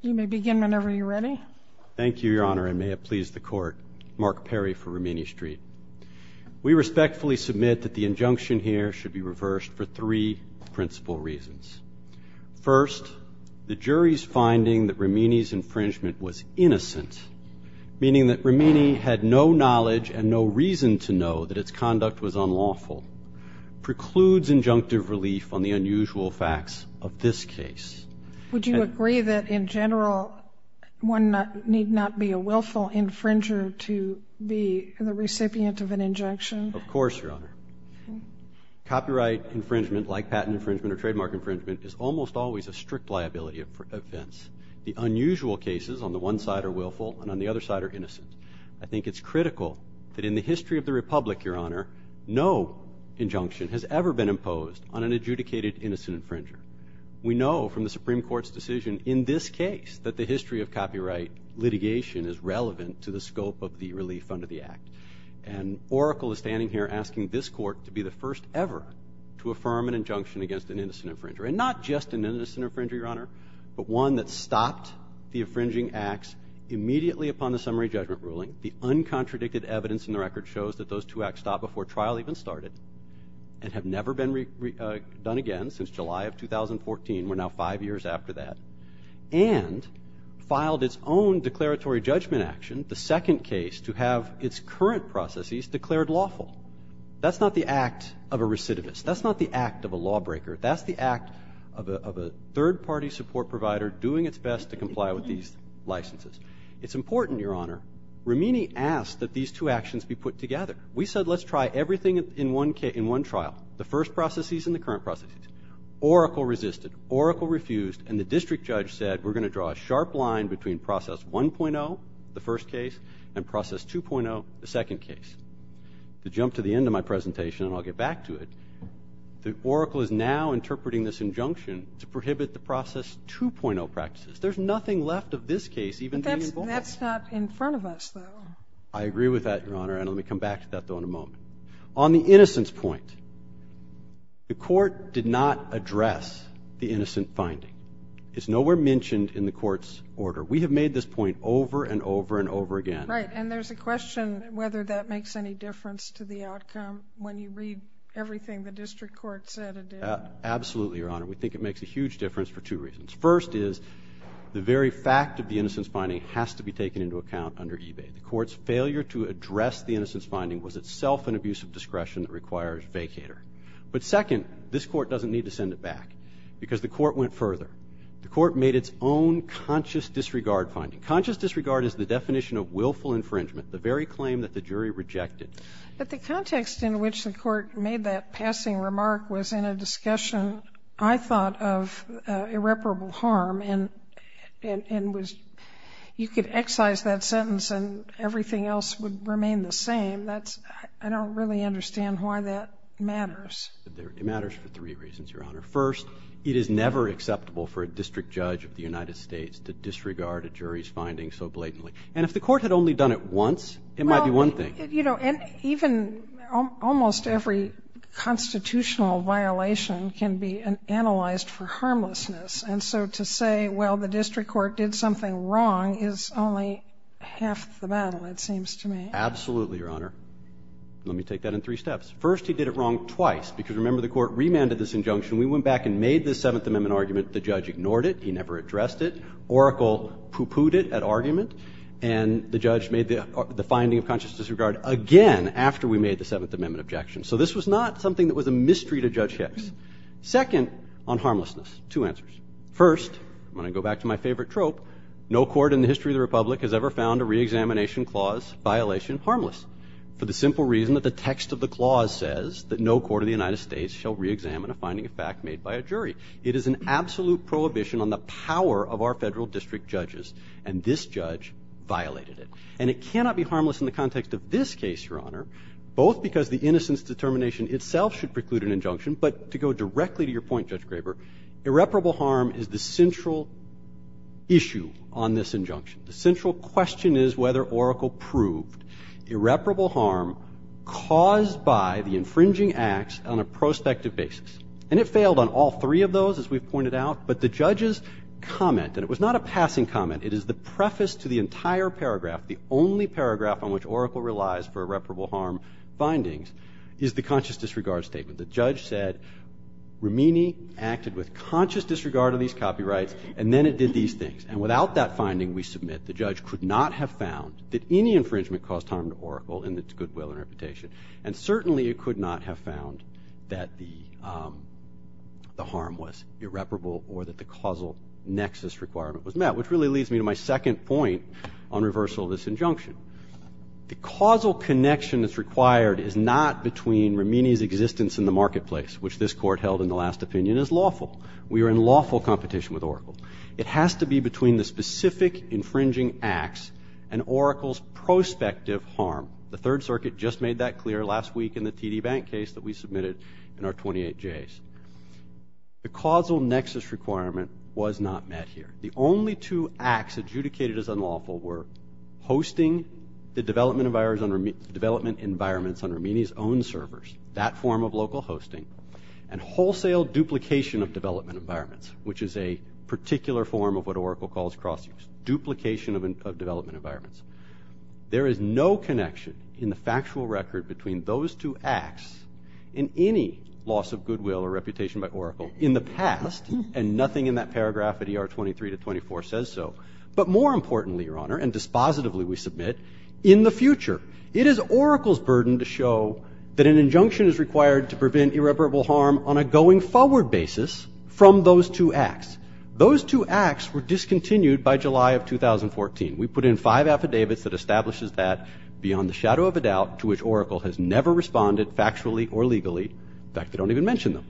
You may begin whenever you're ready. Thank you, Your Honor, and may it please the Court, Mark Perry for Rimini Street. We respectfully submit that the injunction here should be reversed for three principal reasons. First, the jury's finding that Rimini's infringement was innocent, meaning that Rimini had no knowledge and no reason to know that its conduct was unlawful, precludes injunctive relief on the unusual facts of this case. Would you agree that, in general, one need not be a willful infringer to be the recipient of an injunction? Of course, Your Honor. Copyright infringement, like patent infringement or trademark infringement, is almost always a strict liability offense. The unusual cases on the one side are willful and on the other side are innocent. I think it's critical that in the history of the Republic, Your Honor, no injunction has ever been imposed on an adjudicated innocent infringer. We know from the Supreme Court's decision in this case that the history of copyright litigation is relevant to the scope of the relief under the act. And Oracle is standing here asking this court to be the first ever to affirm an injunction against an innocent infringer. And not just an innocent infringer, Your Honor, but one that stopped the infringing acts immediately upon the summary judgment ruling. The uncontradicted evidence in the record shows that those two acts stopped before trial even started and have never been done again since July of 2014. We're now five years after that. And filed its own declaratory judgment action, the second case, to have its current processes declared lawful. That's not the act of a recidivist. That's not the act of a lawbreaker. That's the act of a third-party support provider doing its best to comply with these licenses. It's important, Your Honor, Romini asked that these two actions be put together. We said, let's try everything in one trial, the first processes and the current processes. Oracle resisted. Oracle refused. And the district judge said, we're going to draw a sharp line between process 1.0, the first case, and process 2.0, the second case. To jump to the end of my presentation, and I'll get back to it, Oracle is now interpreting this injunction to prohibit the process 2.0 practices. There's nothing left of this case even being involved. That's not in front of us, though. I agree with that, Your Honor. And let me come back to that, though, in a moment. On the innocence point, the court did not address the innocent finding. It's nowhere mentioned in the court's order. We have made this point over and over and over again. Right, and there's a question whether that makes any difference to the outcome when you read everything the district court said it did. Absolutely, Your Honor. We think it makes a huge difference for two reasons. First is, the very fact of the innocence finding has to be taken into account under eBay. The court's failure to address the innocence finding was itself an abuse of discretion that requires vacater. But second, this court doesn't need to send it back because the court went further. The court made its own conscious disregard finding. Conscious disregard is the definition of willful infringement, the very claim that the jury rejected. But the context in which the court made that passing remark was in a discussion, I thought, of irreparable harm. And you could excise that sentence, and everything else would remain the same. I don't really understand why that matters. It matters for three reasons, Your Honor. First, it is never acceptable for a district judge of the United States to disregard a jury's finding so blatantly. And if the court had only done it once, it might be one thing. And even almost every constitutional violation can be analyzed for harmlessness. And so to say, well, the district court did something wrong is only half the battle, it seems to me. Absolutely, Your Honor. Let me take that in three steps. First, he did it wrong twice. Because remember, the court remanded this injunction. We went back and made the Seventh Amendment argument. The judge ignored it. He never addressed it. Oracle pooh-poohed it at argument. And the judge made the finding of conscious disregard again after we made the Seventh Amendment objection. So this was not something that was a mystery to Judge Hicks. Second, on harmlessness, two answers. First, I'm going to go back to my favorite trope. No court in the history of the Republic has ever found a re-examination clause violation harmless for the simple reason that the text of the clause says that no court of the United States shall re-examine a finding of fact made by a jury. It is an absolute prohibition on the power of our federal district judges. And this judge violated it. And it cannot be harmless in the context of this case, Your Honor, both because the innocence determination itself should preclude an injunction. But to go directly to your point, Judge Graber, irreparable harm is the central issue on this injunction. The central question is whether Oracle proved irreparable harm caused by the infringing acts on a prospective basis. And it failed on all three of those, as we've pointed out. But the judge's comment, and it was not a passing comment, it is the preface to the entire paragraph, the only paragraph on which Oracle relies for irreparable harm findings, is the conscious disregard statement. The judge said, Romini acted with conscious disregard of these copyrights, and then it did these things. And without that finding, we submit the judge could not have found that any infringement caused harm to Oracle in its goodwill and reputation. And certainly, it could not have found that the harm was irreparable or that the causal nexus requirement was met, which really leads me to my second point on reversal of this injunction. The causal connection that's required is not between Romini's existence in the marketplace, which this court held in the last opinion is lawful. We are in lawful competition with Oracle. It has to be between the specific infringing acts and Oracle's prospective harm. The Third Circuit just made that clear last week in the TD Bank case that we submitted in our 28 J's. The causal nexus requirement was not met here. The only two acts adjudicated as unlawful were hosting the development environments on Romini's own servers, that form of local hosting, and wholesale duplication of development environments, which is a particular form of what Oracle calls cross-use, duplication of development environments. There is no connection in the factual record between those two acts in any loss of goodwill or reputation by Oracle in the past. And nothing in that paragraph at ER 23 to 24 says so. But more importantly, Your Honor, and dispositively, we submit, in the future, it is Oracle's burden to show that an injunction is required to prevent irreparable harm on a going forward basis from those two acts. Those two acts were discontinued by July of 2014. We put in five affidavits that establishes that beyond the shadow of a doubt to which Oracle has never responded factually or legally. In fact, they don't even mention them.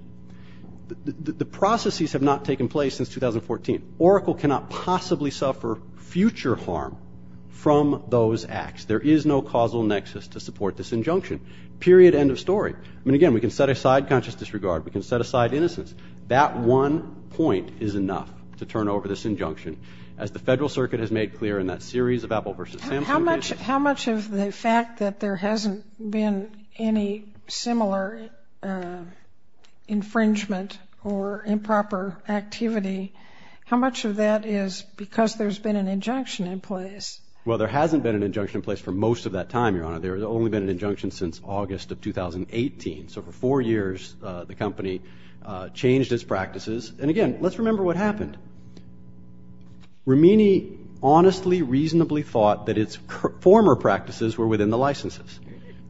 The processes have not taken place since 2014. Oracle cannot possibly suffer future harm from those acts. There is no causal nexus to support this injunction. Period, end of story. I mean, again, we can set aside conscious disregard. We can set aside innocence. That one point is enough to turn over this injunction, as the Federal Circuit has made clear in that series of Apple versus Samsung cases. How much of the fact that there hasn't been any similar infringement or improper activity, how much of that is because there's been an injunction in place? Well, there hasn't been an injunction in place for most of that time, Your Honor. There has only been an injunction since August of 2018. So for four years, the company changed its practices. And again, let's remember what happened. Rimini honestly, reasonably thought that its former practices were within the licenses.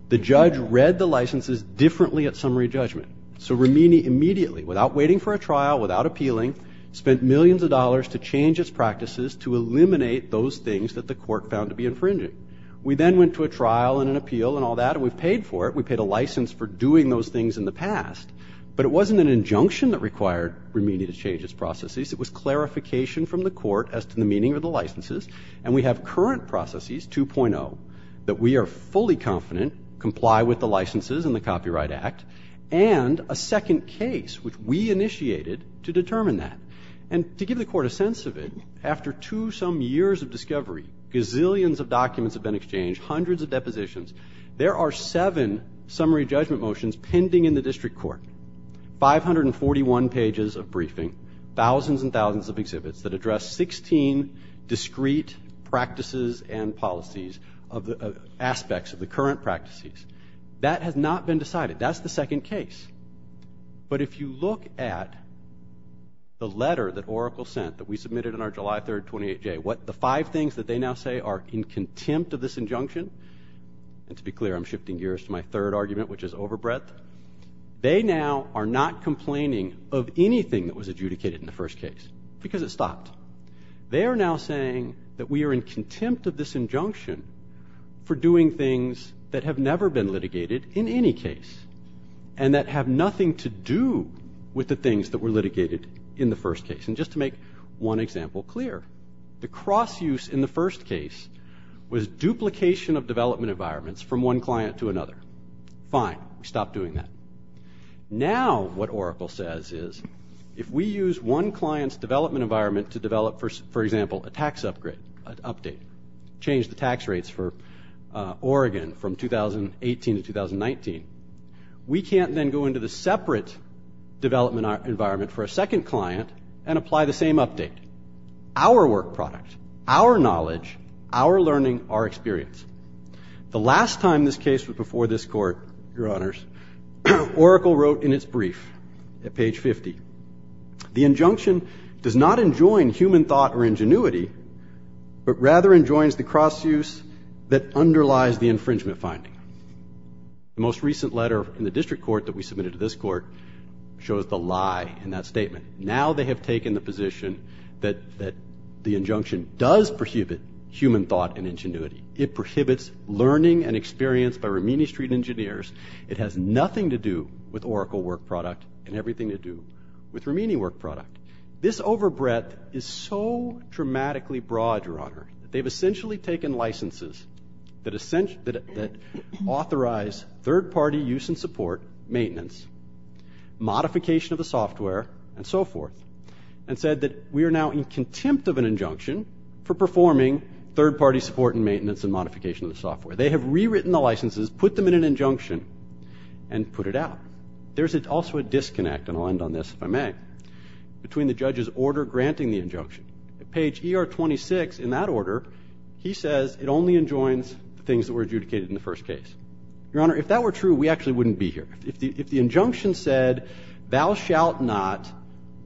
The judge read the licenses differently at summary judgment. So Rimini immediately, without waiting for a trial, without appealing, spent millions of dollars to change its practices to eliminate those things that the court found to be infringing. We then went to a trial and an appeal and all that, and we paid for it. We paid a license for doing those things in the past. But it wasn't an injunction that required Rimini to change its processes. It was clarification from the court as to the meaning of the licenses. And we have current processes, 2.0, that we are fully confident comply with the licenses and the Copyright Act, and a second case, which we initiated to determine that. And to give the court a sense of it, after two some years of discovery, gazillions of documents have been exchanged, hundreds of depositions. There are seven summary judgment motions pending in the district court, 541 pages of briefing, thousands and thousands of exhibits that address 16 discrete practices and policies, aspects of the current practices. That has not been decided. That's the second case. But if you look at the letter that Oracle sent that we submitted on our July 3, 28 day, what the five things that they now say are in contempt of this injunction, and to be clear, I'm shifting gears to my third argument, which is overbreadth, they now are not complaining of anything that was adjudicated in the first case, because it stopped. They are now saying that we are in contempt of this injunction for doing things that have never been litigated in any case, and that have nothing to do with the things that were litigated in the first case. And just to make one example clear, the cross-use in the first case was duplication of development environments from one client to another. Fine, we stopped doing that. Now what Oracle says is, if we use one client's development environment to develop, for example, a tax update, change the tax rates for Oregon from 2018 to 2019, we can't then go into the separate development environment for a second client and apply the same update. Our work product, our knowledge, our learning, our experience. The last time this case was before this court, your honors, Oracle wrote in its brief at page 50, the injunction does not enjoin human thought or ingenuity, but rather enjoins the cross-use that underlies the infringement finding. The most recent letter in the district court that we submitted to this court shows the lie in that statement. Now they have taken the position that the injunction does prohibit human thought and ingenuity. It prohibits learning and experience by Ramini Street engineers. It has nothing to do with Oracle work product and everything to do with Ramini work product. This overbreadth is so dramatically broad, your honor, that they've essentially taken licenses that authorize third party use and support, maintenance, modification of the software, and so forth, and said that we are now in contempt of an injunction for performing third party support and maintenance and modification of the software. They have rewritten the licenses, put them in an injunction, and put it out. There's also a disconnect, and I'll end on this if I may, between the judge's order granting the injunction. Page ER 26, in that order, he says it only enjoins things that were adjudicated in the first case. Your honor, if that were true, we actually wouldn't be here. If the injunction said, thou shalt not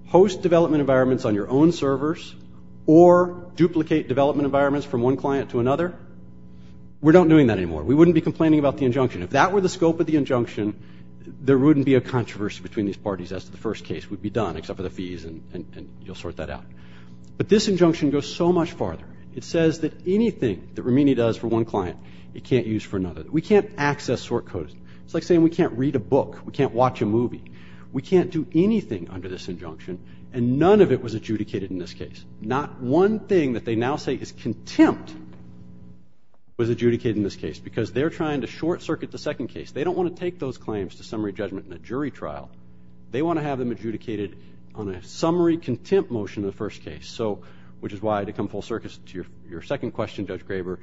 host development environments on your own servers or duplicate development environments from one client to another, we're not doing that anymore. We wouldn't be complaining about the injunction. If that were the scope of the injunction, there wouldn't be a controversy between these parties. As to the first case, we'd be done, except for the fees, and you'll sort that out. But this injunction goes so much farther. It says that anything that Ramini does for one client, it can't use for another. We can't access sort codes. It's like saying we can't read a book. We can't watch a movie. We can't do anything under this injunction, and none of it was adjudicated in this case. Not one thing that they now say is contempt was adjudicated in this case, because they're trying to short circuit the second case. They don't want to take those claims to summary judgment in a jury trial. They want to have them adjudicated on a summary contempt motion in the first case, which is why, to come full circus to your second question, Judge Graber,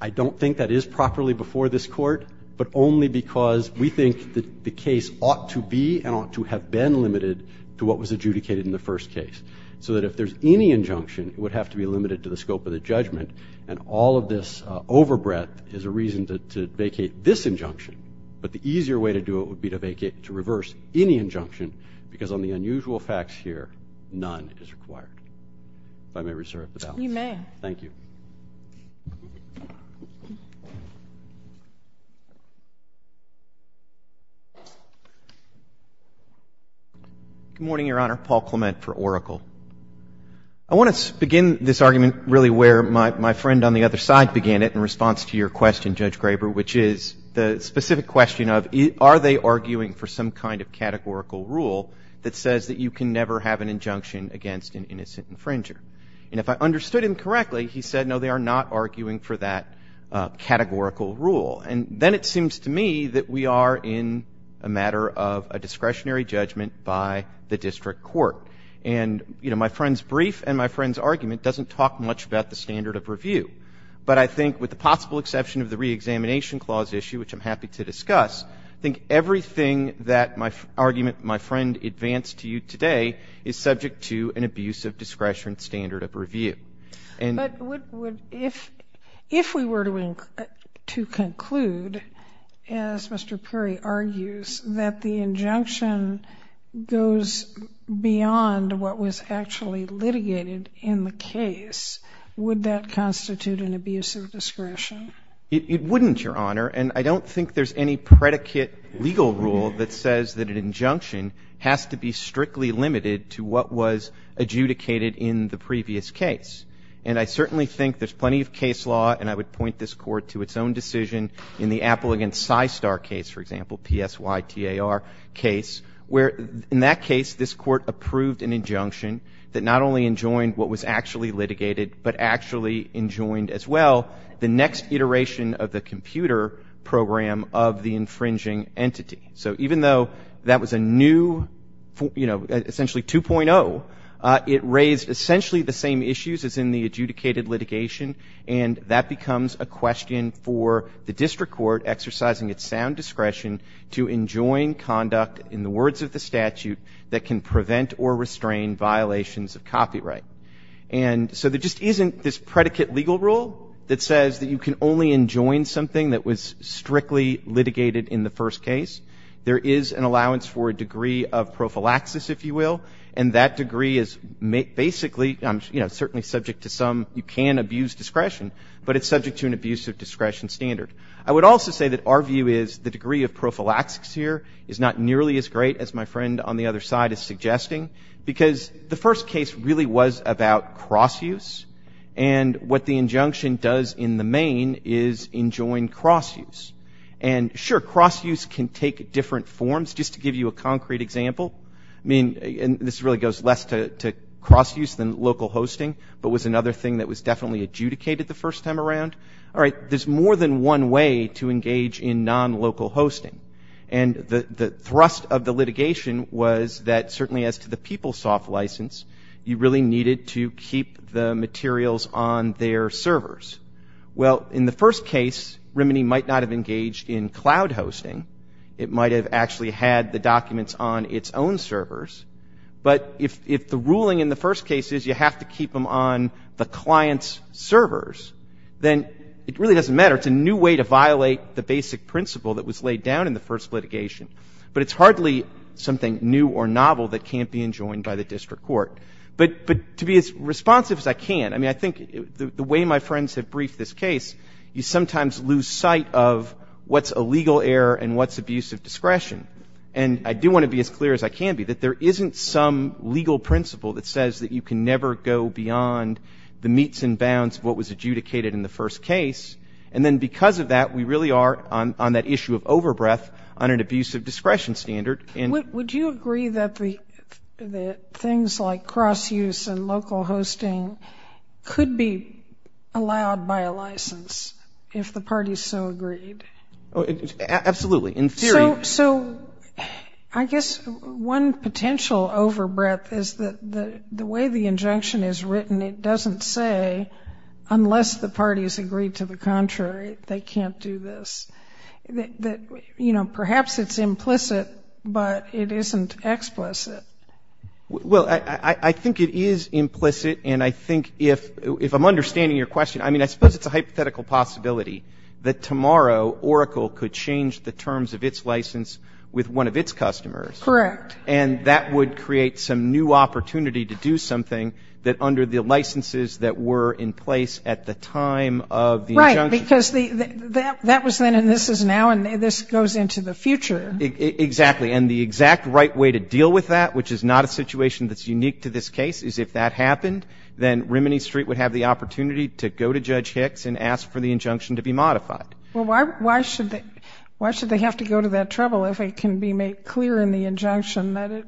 I don't think that is properly before this court, but only because we think that the case ought to be and ought to have been limited to what was adjudicated in the first case. So that if there's any injunction, it would have to be limited to the scope of the judgment, and all of this overbreadth is a reason to vacate this injunction, but the easier way to do it would be to reverse any injunction, because on the unusual facts here, none is required. If I may reserve the balance. You may. Thank you. Good morning, Your Honor. Paul Clement for Oracle. I want to begin this argument really where my friend on the other side began it in response to your question, Judge Graber, which is the specific question of, are they arguing for some kind of categorical rule that says that you can never have an injunction against an innocent infringer? And if I understood him correctly, for that categorical rule. And then it turns out that there is a very clear and it seems to me that we are in a matter of a discretionary judgment by the district court. And my friend's brief and my friend's argument doesn't talk much about the standard of review. But I think with the possible exception of the re-examination clause issue, which I'm happy to discuss, I think everything that my argument, my friend advanced to you today, is subject to an abusive discretion standard of review. But if we were to conclude, as Mr. Perry argues, that the injunction goes beyond what was actually litigated in the case, would that constitute an abusive discretion? It wouldn't, Your Honor. And I don't think there's any predicate legal rule that says that an injunction has to be strictly limited to what was adjudicated in the previous case. And I certainly think there's plenty of case law, and I would point this court to its own decision in the Apple against Systar case, for example, P-S-Y-T-A-R case, where in that case, this court approved an injunction that not only enjoined what was actually litigated, but actually enjoined as well, the next iteration of the computer program of the infringing entity. So even though that was a new, essentially 2.0, it raised essentially the same issues as in the adjudicated litigation, and that becomes a question for the district court exercising its sound discretion to enjoin conduct in the words of the statute that can prevent or restrain violations of copyright. And so there just isn't this predicate legal rule that says that you can only enjoin something that was strictly litigated in the first case. There is an allowance for a degree of prophylaxis, if you will, and that degree is basically, I'm certainly subject to some, you can abuse discretion, but it's subject to an abuse of discretion standard. I would also say that our view is the degree of prophylaxis here is not nearly as great as my friend on the other side is suggesting, because the first case really was about cross-use, and what the injunction does in the main is enjoin cross-use, and sure, cross-use can take different forms. Just to give you a concrete example, I mean, and this really goes less to cross-use than local hosting, but was another thing that was definitely adjudicated the first time around. All right, there's more than one way to engage in non-local hosting, and the thrust of the litigation was that, certainly as to the PeopleSoft license, you really needed to keep the materials on their servers. Well, in the first case, Remini might not have engaged in cloud hosting. It might have actually had the documents on its own servers, but if the ruling in the first case is you have to keep them on the client's servers, then it really doesn't matter. It's a new way to violate the basic principle that was laid down in the first litigation, but it's hardly something new or novel that can't be enjoined by the district court, but to be as responsive as I can, I mean, I think the way my friends have briefed this case, you sometimes lose sight of what's a legal error and what's abusive discretion, and I do want to be as clear as I can be that there isn't some legal principle that says that you can never go beyond the meets and bounds of what was adjudicated in the first case, and then because of that, we really are on that issue of over-breath on an abusive discretion standard. Would you agree that things like cross-use and local hosting could be allowed by a license if the parties so agreed? Absolutely, in theory. So I guess one potential over-breath is that the way the injunction is written, it doesn't say unless the parties agree to the contrary, they can't do this. Perhaps it's implicit, but it isn't explicit. Well, I think it is implicit, and I think if I'm understanding your question, I mean, I suppose it's a hypothetical possibility that tomorrow Oracle could change the terms of its license with one of its customers. Correct. And that would create some new opportunity to do something that under the licenses that were in place at the time of the injunction. Right, because that was then and this is now and this goes into the future. Exactly, and the exact right way to deal with that, which is not a situation that's unique to this case, is if that happened, then Rimini Street would have the opportunity to go to Judge Hicks and ask for the injunction to be modified. Well, why should they have to go to that trouble if it can be made clear in the injunction that it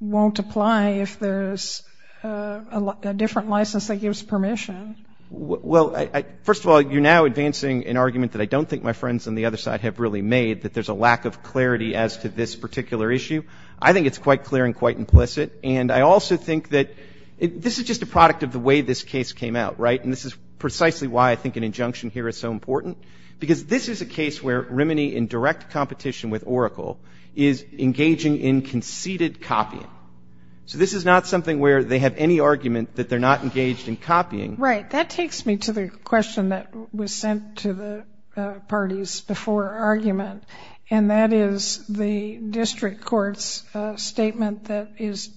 won't apply if there's a different license that gives permission? Well, first of all, you're now advancing an argument that I don't think my friends on the other side have really made that there's a lack of clarity as to this particular issue. I think it's quite clear and quite implicit. And I also think that this is just a product of the way this case came out, right? And this is precisely why I think an injunction here is so important, because this is a case where Rimini in direct competition with Oracle is engaging in conceded copying. So this is not something where they have any argument that they're not engaged in copying. Right, that takes me to the question that was sent to the parties before argument. And that is the district court's statement that is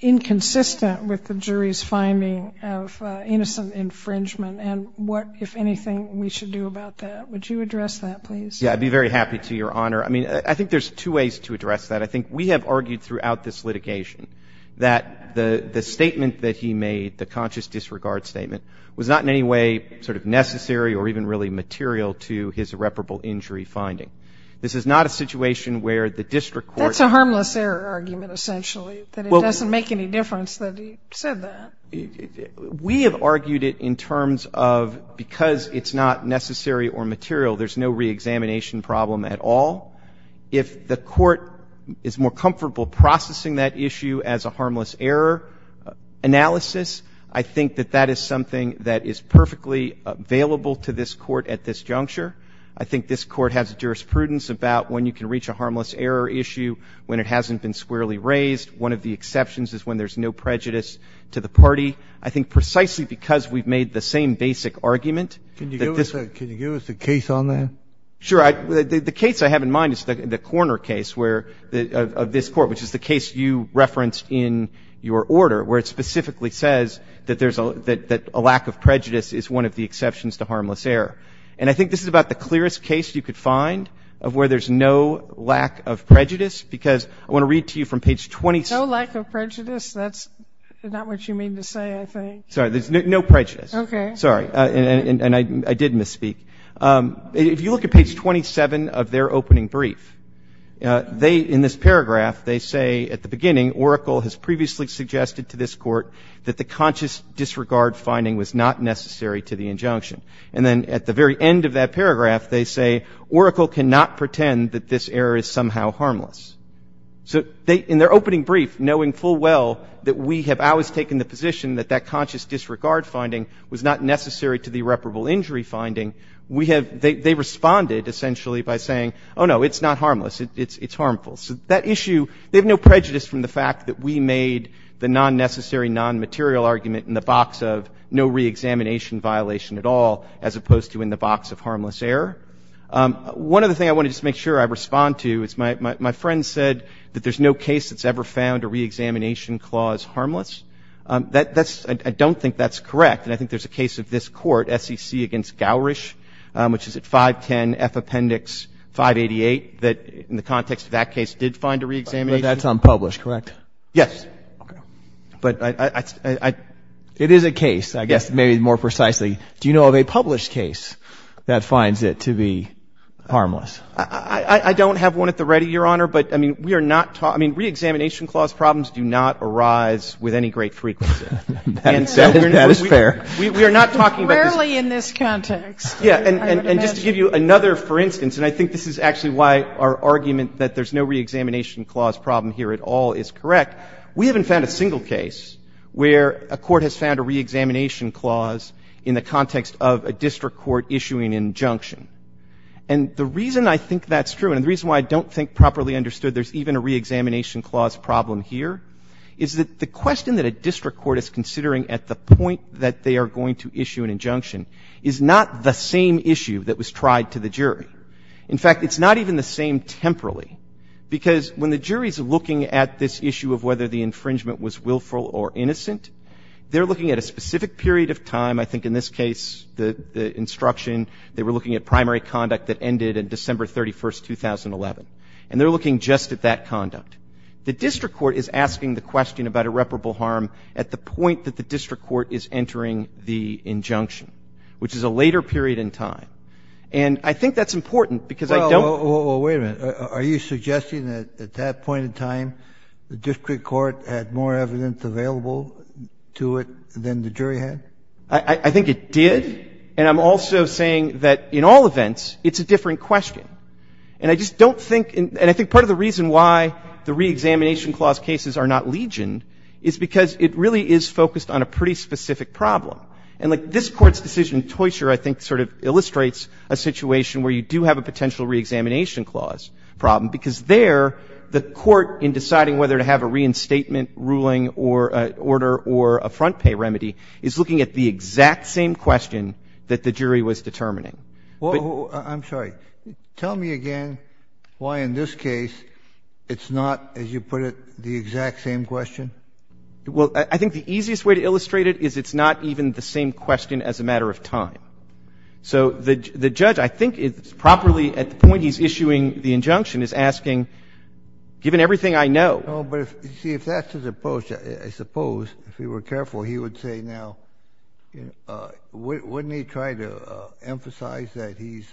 inconsistent with the jury's finding of innocent infringement. And what, if anything, we should do about that. Would you address that, please? Yeah, I'd be very happy to, Your Honor. I mean, I think there's two ways to address that. I think we have argued throughout this litigation that the statement that he made, the conscious disregard statement, was not in any way sort of necessary or even really material to his irreparable injury finding. This is not a situation where the district court That's a harmless error argument, essentially, that it doesn't make any difference that he said that. We have argued it in terms of, because it's not necessary or material, there's no re-examination problem at all. If the court is more comfortable processing that issue as a harmless error analysis, I think that that is something that is perfectly available to this court at this juncture. I think this court has jurisprudence about when you can reach a harmless error issue, when it hasn't been squarely raised. One of the exceptions is when there's no prejudice to the party. I think precisely because we've made the same basic argument Can you give us a case on that? Sure. The case I have in mind is the corner case of this court, which is the case you referenced in your order, where it specifically says that a lack of prejudice is one of the exceptions to harmless error. And I think this is about the clearest case you could find of where there's no lack of prejudice, because I want to read to you from page 27. No lack of prejudice? That's not what you mean to say, I think. Sorry, there's no prejudice. Sorry, and I did misspeak. If you look at page 27 of their opening brief, in this paragraph, they say, at the beginning, Oracle has previously suggested to this court that the conscious disregard finding was not necessary to the injunction. And then at the very end of that paragraph, they say Oracle cannot pretend that this error is somehow harmless. So in their opening brief, knowing full well that we have always taken the position that that conscious disregard finding was not necessary to the irreparable injury finding, they responded, essentially, by saying, oh, no, it's not harmless. It's harmful. So that issue, they have no prejudice from the fact that we made the non-necessary, non-material argument in the box of no re-examination violation at all, as opposed to in the box of harmless error. One other thing I want to just make sure I respond to is my friend said that there's no case that's ever found a re-examination clause harmless. I don't think that's correct. And I think there's a case of this court, SEC against Gowrish, which is at 510 F Appendix 588, that in the context of that case, did find a re-examination. But that's unpublished, correct? Yes. But it is a case, I guess, maybe more precisely. Do you know of a published case that finds it to be harmless? I don't have one at the ready, Your Honor. But I mean, we are not talking, I mean, re-examination clause problems do not arise with any great frequency. That is fair. We are not talking about this. Rarely in this context. Yeah, and just to give you another for instance, and I think this is actually why our argument that there's no re-examination clause problem here at all is correct. We haven't found a single case where a court has found a re-examination clause in the context of a district court issuing an injunction. And the reason I think that's true, and the reason why I don't think properly understood there's even a re-examination clause problem here, is that the question that a district court is considering at the point that they are going to issue an injunction is not the same issue that was tried to the jury. In fact, it's not even the same temporally. Because when the jury's looking at this issue of whether the infringement was willful or innocent, they're looking at a specific period of time. I think in this case, the instruction, they were looking at primary conduct that ended in December 31st, 2011. And they're looking just at that conduct. The district court is asking the question about irreparable harm at the point that the district court is entering the injunction, which is a later period in time. And I think that's important, because I don't Well, wait a minute. Are you suggesting that at that point in time, the district court had more evidence available to it than the jury had? I think it did. And I'm also saying that in all events, it's a different question. And I just don't think, and I think part of the reason why the re-examination clause cases are not legioned is because it really is focused on a pretty specific problem. And like this court's decision in Toysher, I think sort of illustrates a situation where you do have a potential re-examination clause problem, because there, the court in deciding whether to have a reinstatement ruling or an order or a front pay remedy is looking at the exact same question that the jury was determining. Well, I'm sorry. Tell me again why in this case, it's not, as you put it, the exact same question? Well, I think the easiest way to illustrate it is it's not even the same question as a matter of time. So the judge, I think it's properly, at the point he's issuing the injunction, is asking, given everything I know. Oh, but see, if that's his approach, I suppose, if he were careful, he would say, now, wouldn't he try to emphasize that he's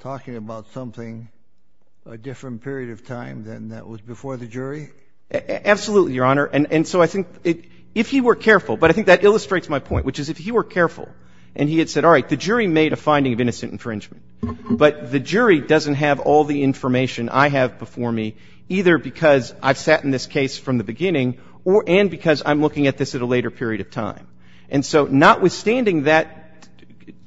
talking about something, a different period of time than that was before the jury? Absolutely, Your Honor. And so I think if he were careful, but I think that illustrates my point, which is if he were careful and he had said, all right, the jury made a finding of innocent infringement, but the jury doesn't have all the information I have before me, either because I've sat in this case from the beginning and because I'm looking at this at a later period of time. And so notwithstanding that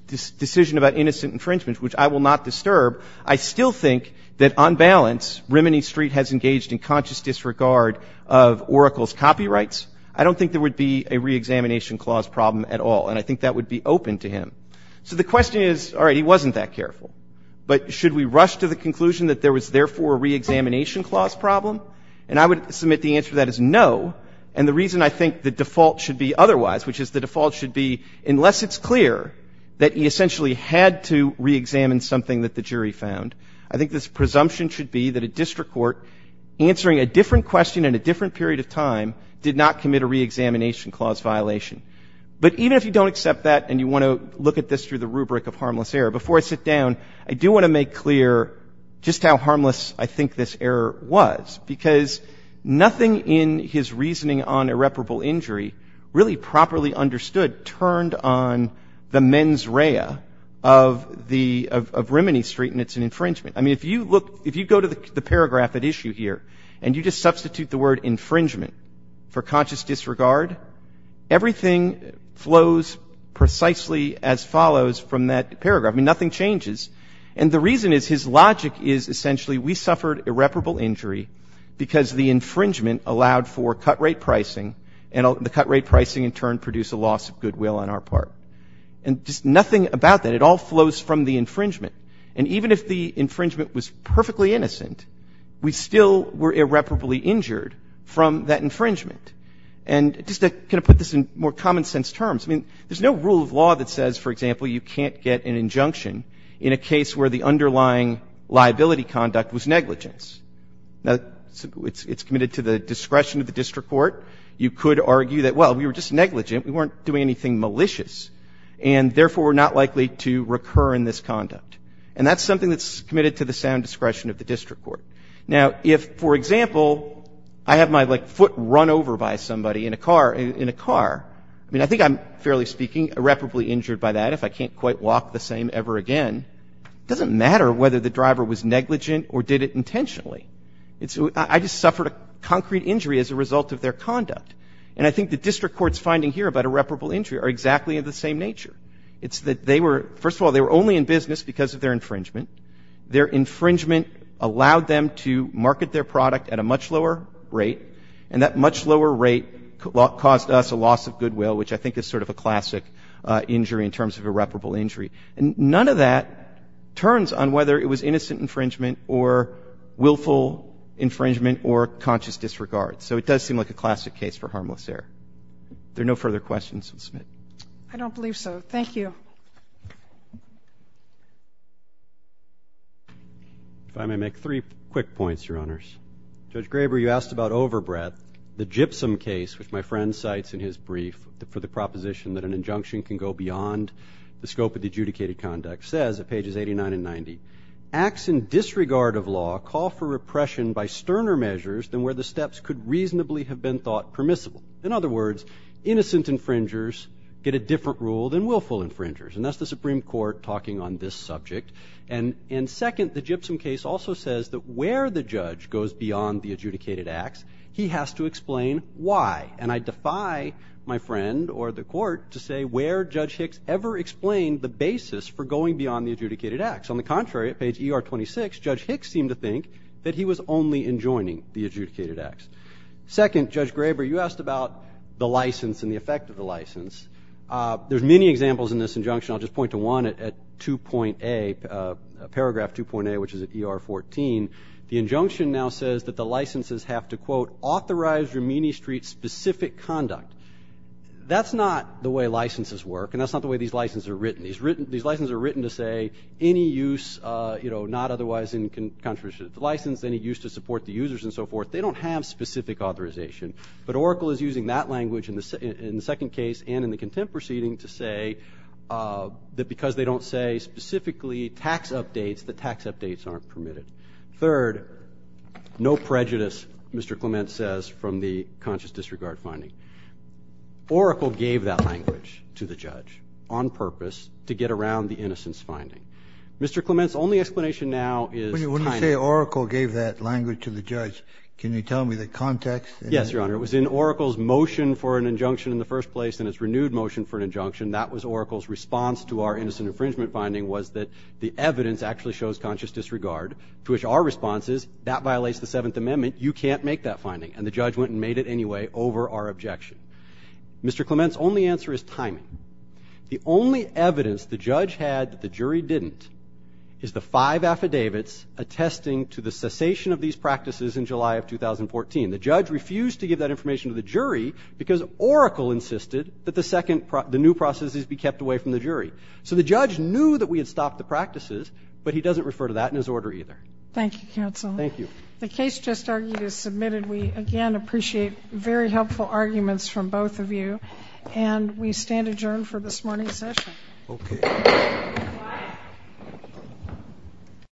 decision about innocent infringement, which I will not disturb, I still think that, on balance, Remini Street has engaged in conscious disregard of Oracle's copyrights. I don't think there would be a reexamination clause problem at all, and I think that would be open to him. So the question is, all right, he wasn't that careful, but should we rush to the conclusion that there was, therefore, a reexamination clause problem? And I would submit the answer to that is no. And the reason I think the default should be otherwise, which is the default should be, unless it's clear that he essentially had to reexamine something that the jury found, I think this presumption should be that a district court answering a different question in a different period of time did not commit a reexamination clause violation. But even if you don't accept that and you want to look at this through the rubric of harmless error, before I sit down, I do want to make clear just how harmless I think this error was, because nothing in his reasoning on irreparable injury really properly understood turned on the mens rea of Rimini Street and its infringement. I mean, if you go to the paragraph at issue here and you just substitute the word infringement for conscious disregard, everything flows precisely as follows from that paragraph. I mean, nothing changes. And the reason is his logic is essentially we suffered irreparable injury because the infringement allowed for cut rate pricing. And the cut rate pricing, in turn, produced a loss of goodwill on our part. And just nothing about that. It all flows from the infringement. And even if the infringement was perfectly innocent, we still were irreparably injured from that infringement. And just to kind of put this in more common sense terms, I mean, there's no rule of law that says, for example, you can't get an injunction in a case where the underlying liability conduct was negligence. Now, it's committed to the discretion of the district court. You could argue that, well, we were just negligent. We weren't doing anything malicious. And therefore, we're not likely to recur in this conduct. And that's something that's committed to the sound discretion of the district court. Now, if, for example, I have my foot run over by somebody in a car, I mean, I think I'm, fairly speaking, irreparably injured by that if I can't quite walk the same ever again, doesn't matter whether the driver was negligent or did it intentionally. I just suffered a concrete injury as a result of their conduct. And I think the district court's finding here about irreparable injury are exactly of the same nature. It's that they were, first of all, they were only in business because of their infringement. Their infringement allowed them to market their product at a much lower rate. And that much lower rate caused us a loss of goodwill, which I think is sort of a classic injury in terms of irreparable injury. And none of that turns on whether it was innocent infringement or willful infringement or conscious disregard. So it does seem like a classic case for harmless error. There are no further questions, Ms. Smith. I don't believe so. Thank you. If I may make three quick points, Your Honors. Judge Graber, you asked about overbreadth. The Gypsum case, which my friend cites in his brief for the proposition that an injunction can go beyond the scope of the adjudicated conduct, says at pages 89 and 90, acts in disregard of law call for repression by sterner measures than where the steps could reasonably have been thought permissible. In other words, innocent infringers get a different rule than willful infringers. And that's the Supreme Court talking on this subject. And second, the Gypsum case also says that where the judge goes beyond the adjudicated acts, he has to explain why. And I defy my friend or the court to say where Judge Hicks ever explained the basis for going beyond the adjudicated acts. On the contrary, at page ER 26, Judge Hicks seemed to think that he was only enjoining the adjudicated acts. Second, Judge Graber, you asked about the license and the effect of the license. There's many examples in this injunction. I'll just point to one at paragraph 2.A, which is at ER 14. The injunction now says that the licenses have to, quote, authorize Rumini Street's specific conduct. That's not the way licenses work, and that's not the way these licenses are written. These licenses are written to say any use not otherwise in contravention of the license, any use to support the users, and so forth. They don't have specific authorization. But Oracle is using that language in the second case and in the contempt proceeding to say that because they don't say specifically tax updates, the tax updates aren't permitted. Third, no prejudice, Mr. Clement says, from the conscious disregard finding. Oracle gave that language to the judge on purpose to get around the innocence finding. Mr. Clement's only explanation now is timing. When you say Oracle gave that language to the judge, can you tell me the context? Yes, Your Honor. It was in Oracle's motion for an injunction in the first place and its renewed motion for an injunction. That was Oracle's response to our innocent infringement finding was that the evidence actually shows conscious disregard, to which our response is, that violates the Seventh Amendment. You can't make that finding. And the judge went and made it anyway over our objection. Mr. Clement's only answer is timing. The only evidence the judge had that the jury didn't is the five affidavits attesting to the cessation of these practices in July of 2014. The judge refused to give that information to the jury because Oracle insisted that the new processes be kept away from the jury. So the judge knew that we had stopped the practices, Thank you, counsel. Thank you. The case just argued is submitted. We, again, appreciate very helpful arguments from both of you. And we stand adjourned for this morning's session. OK.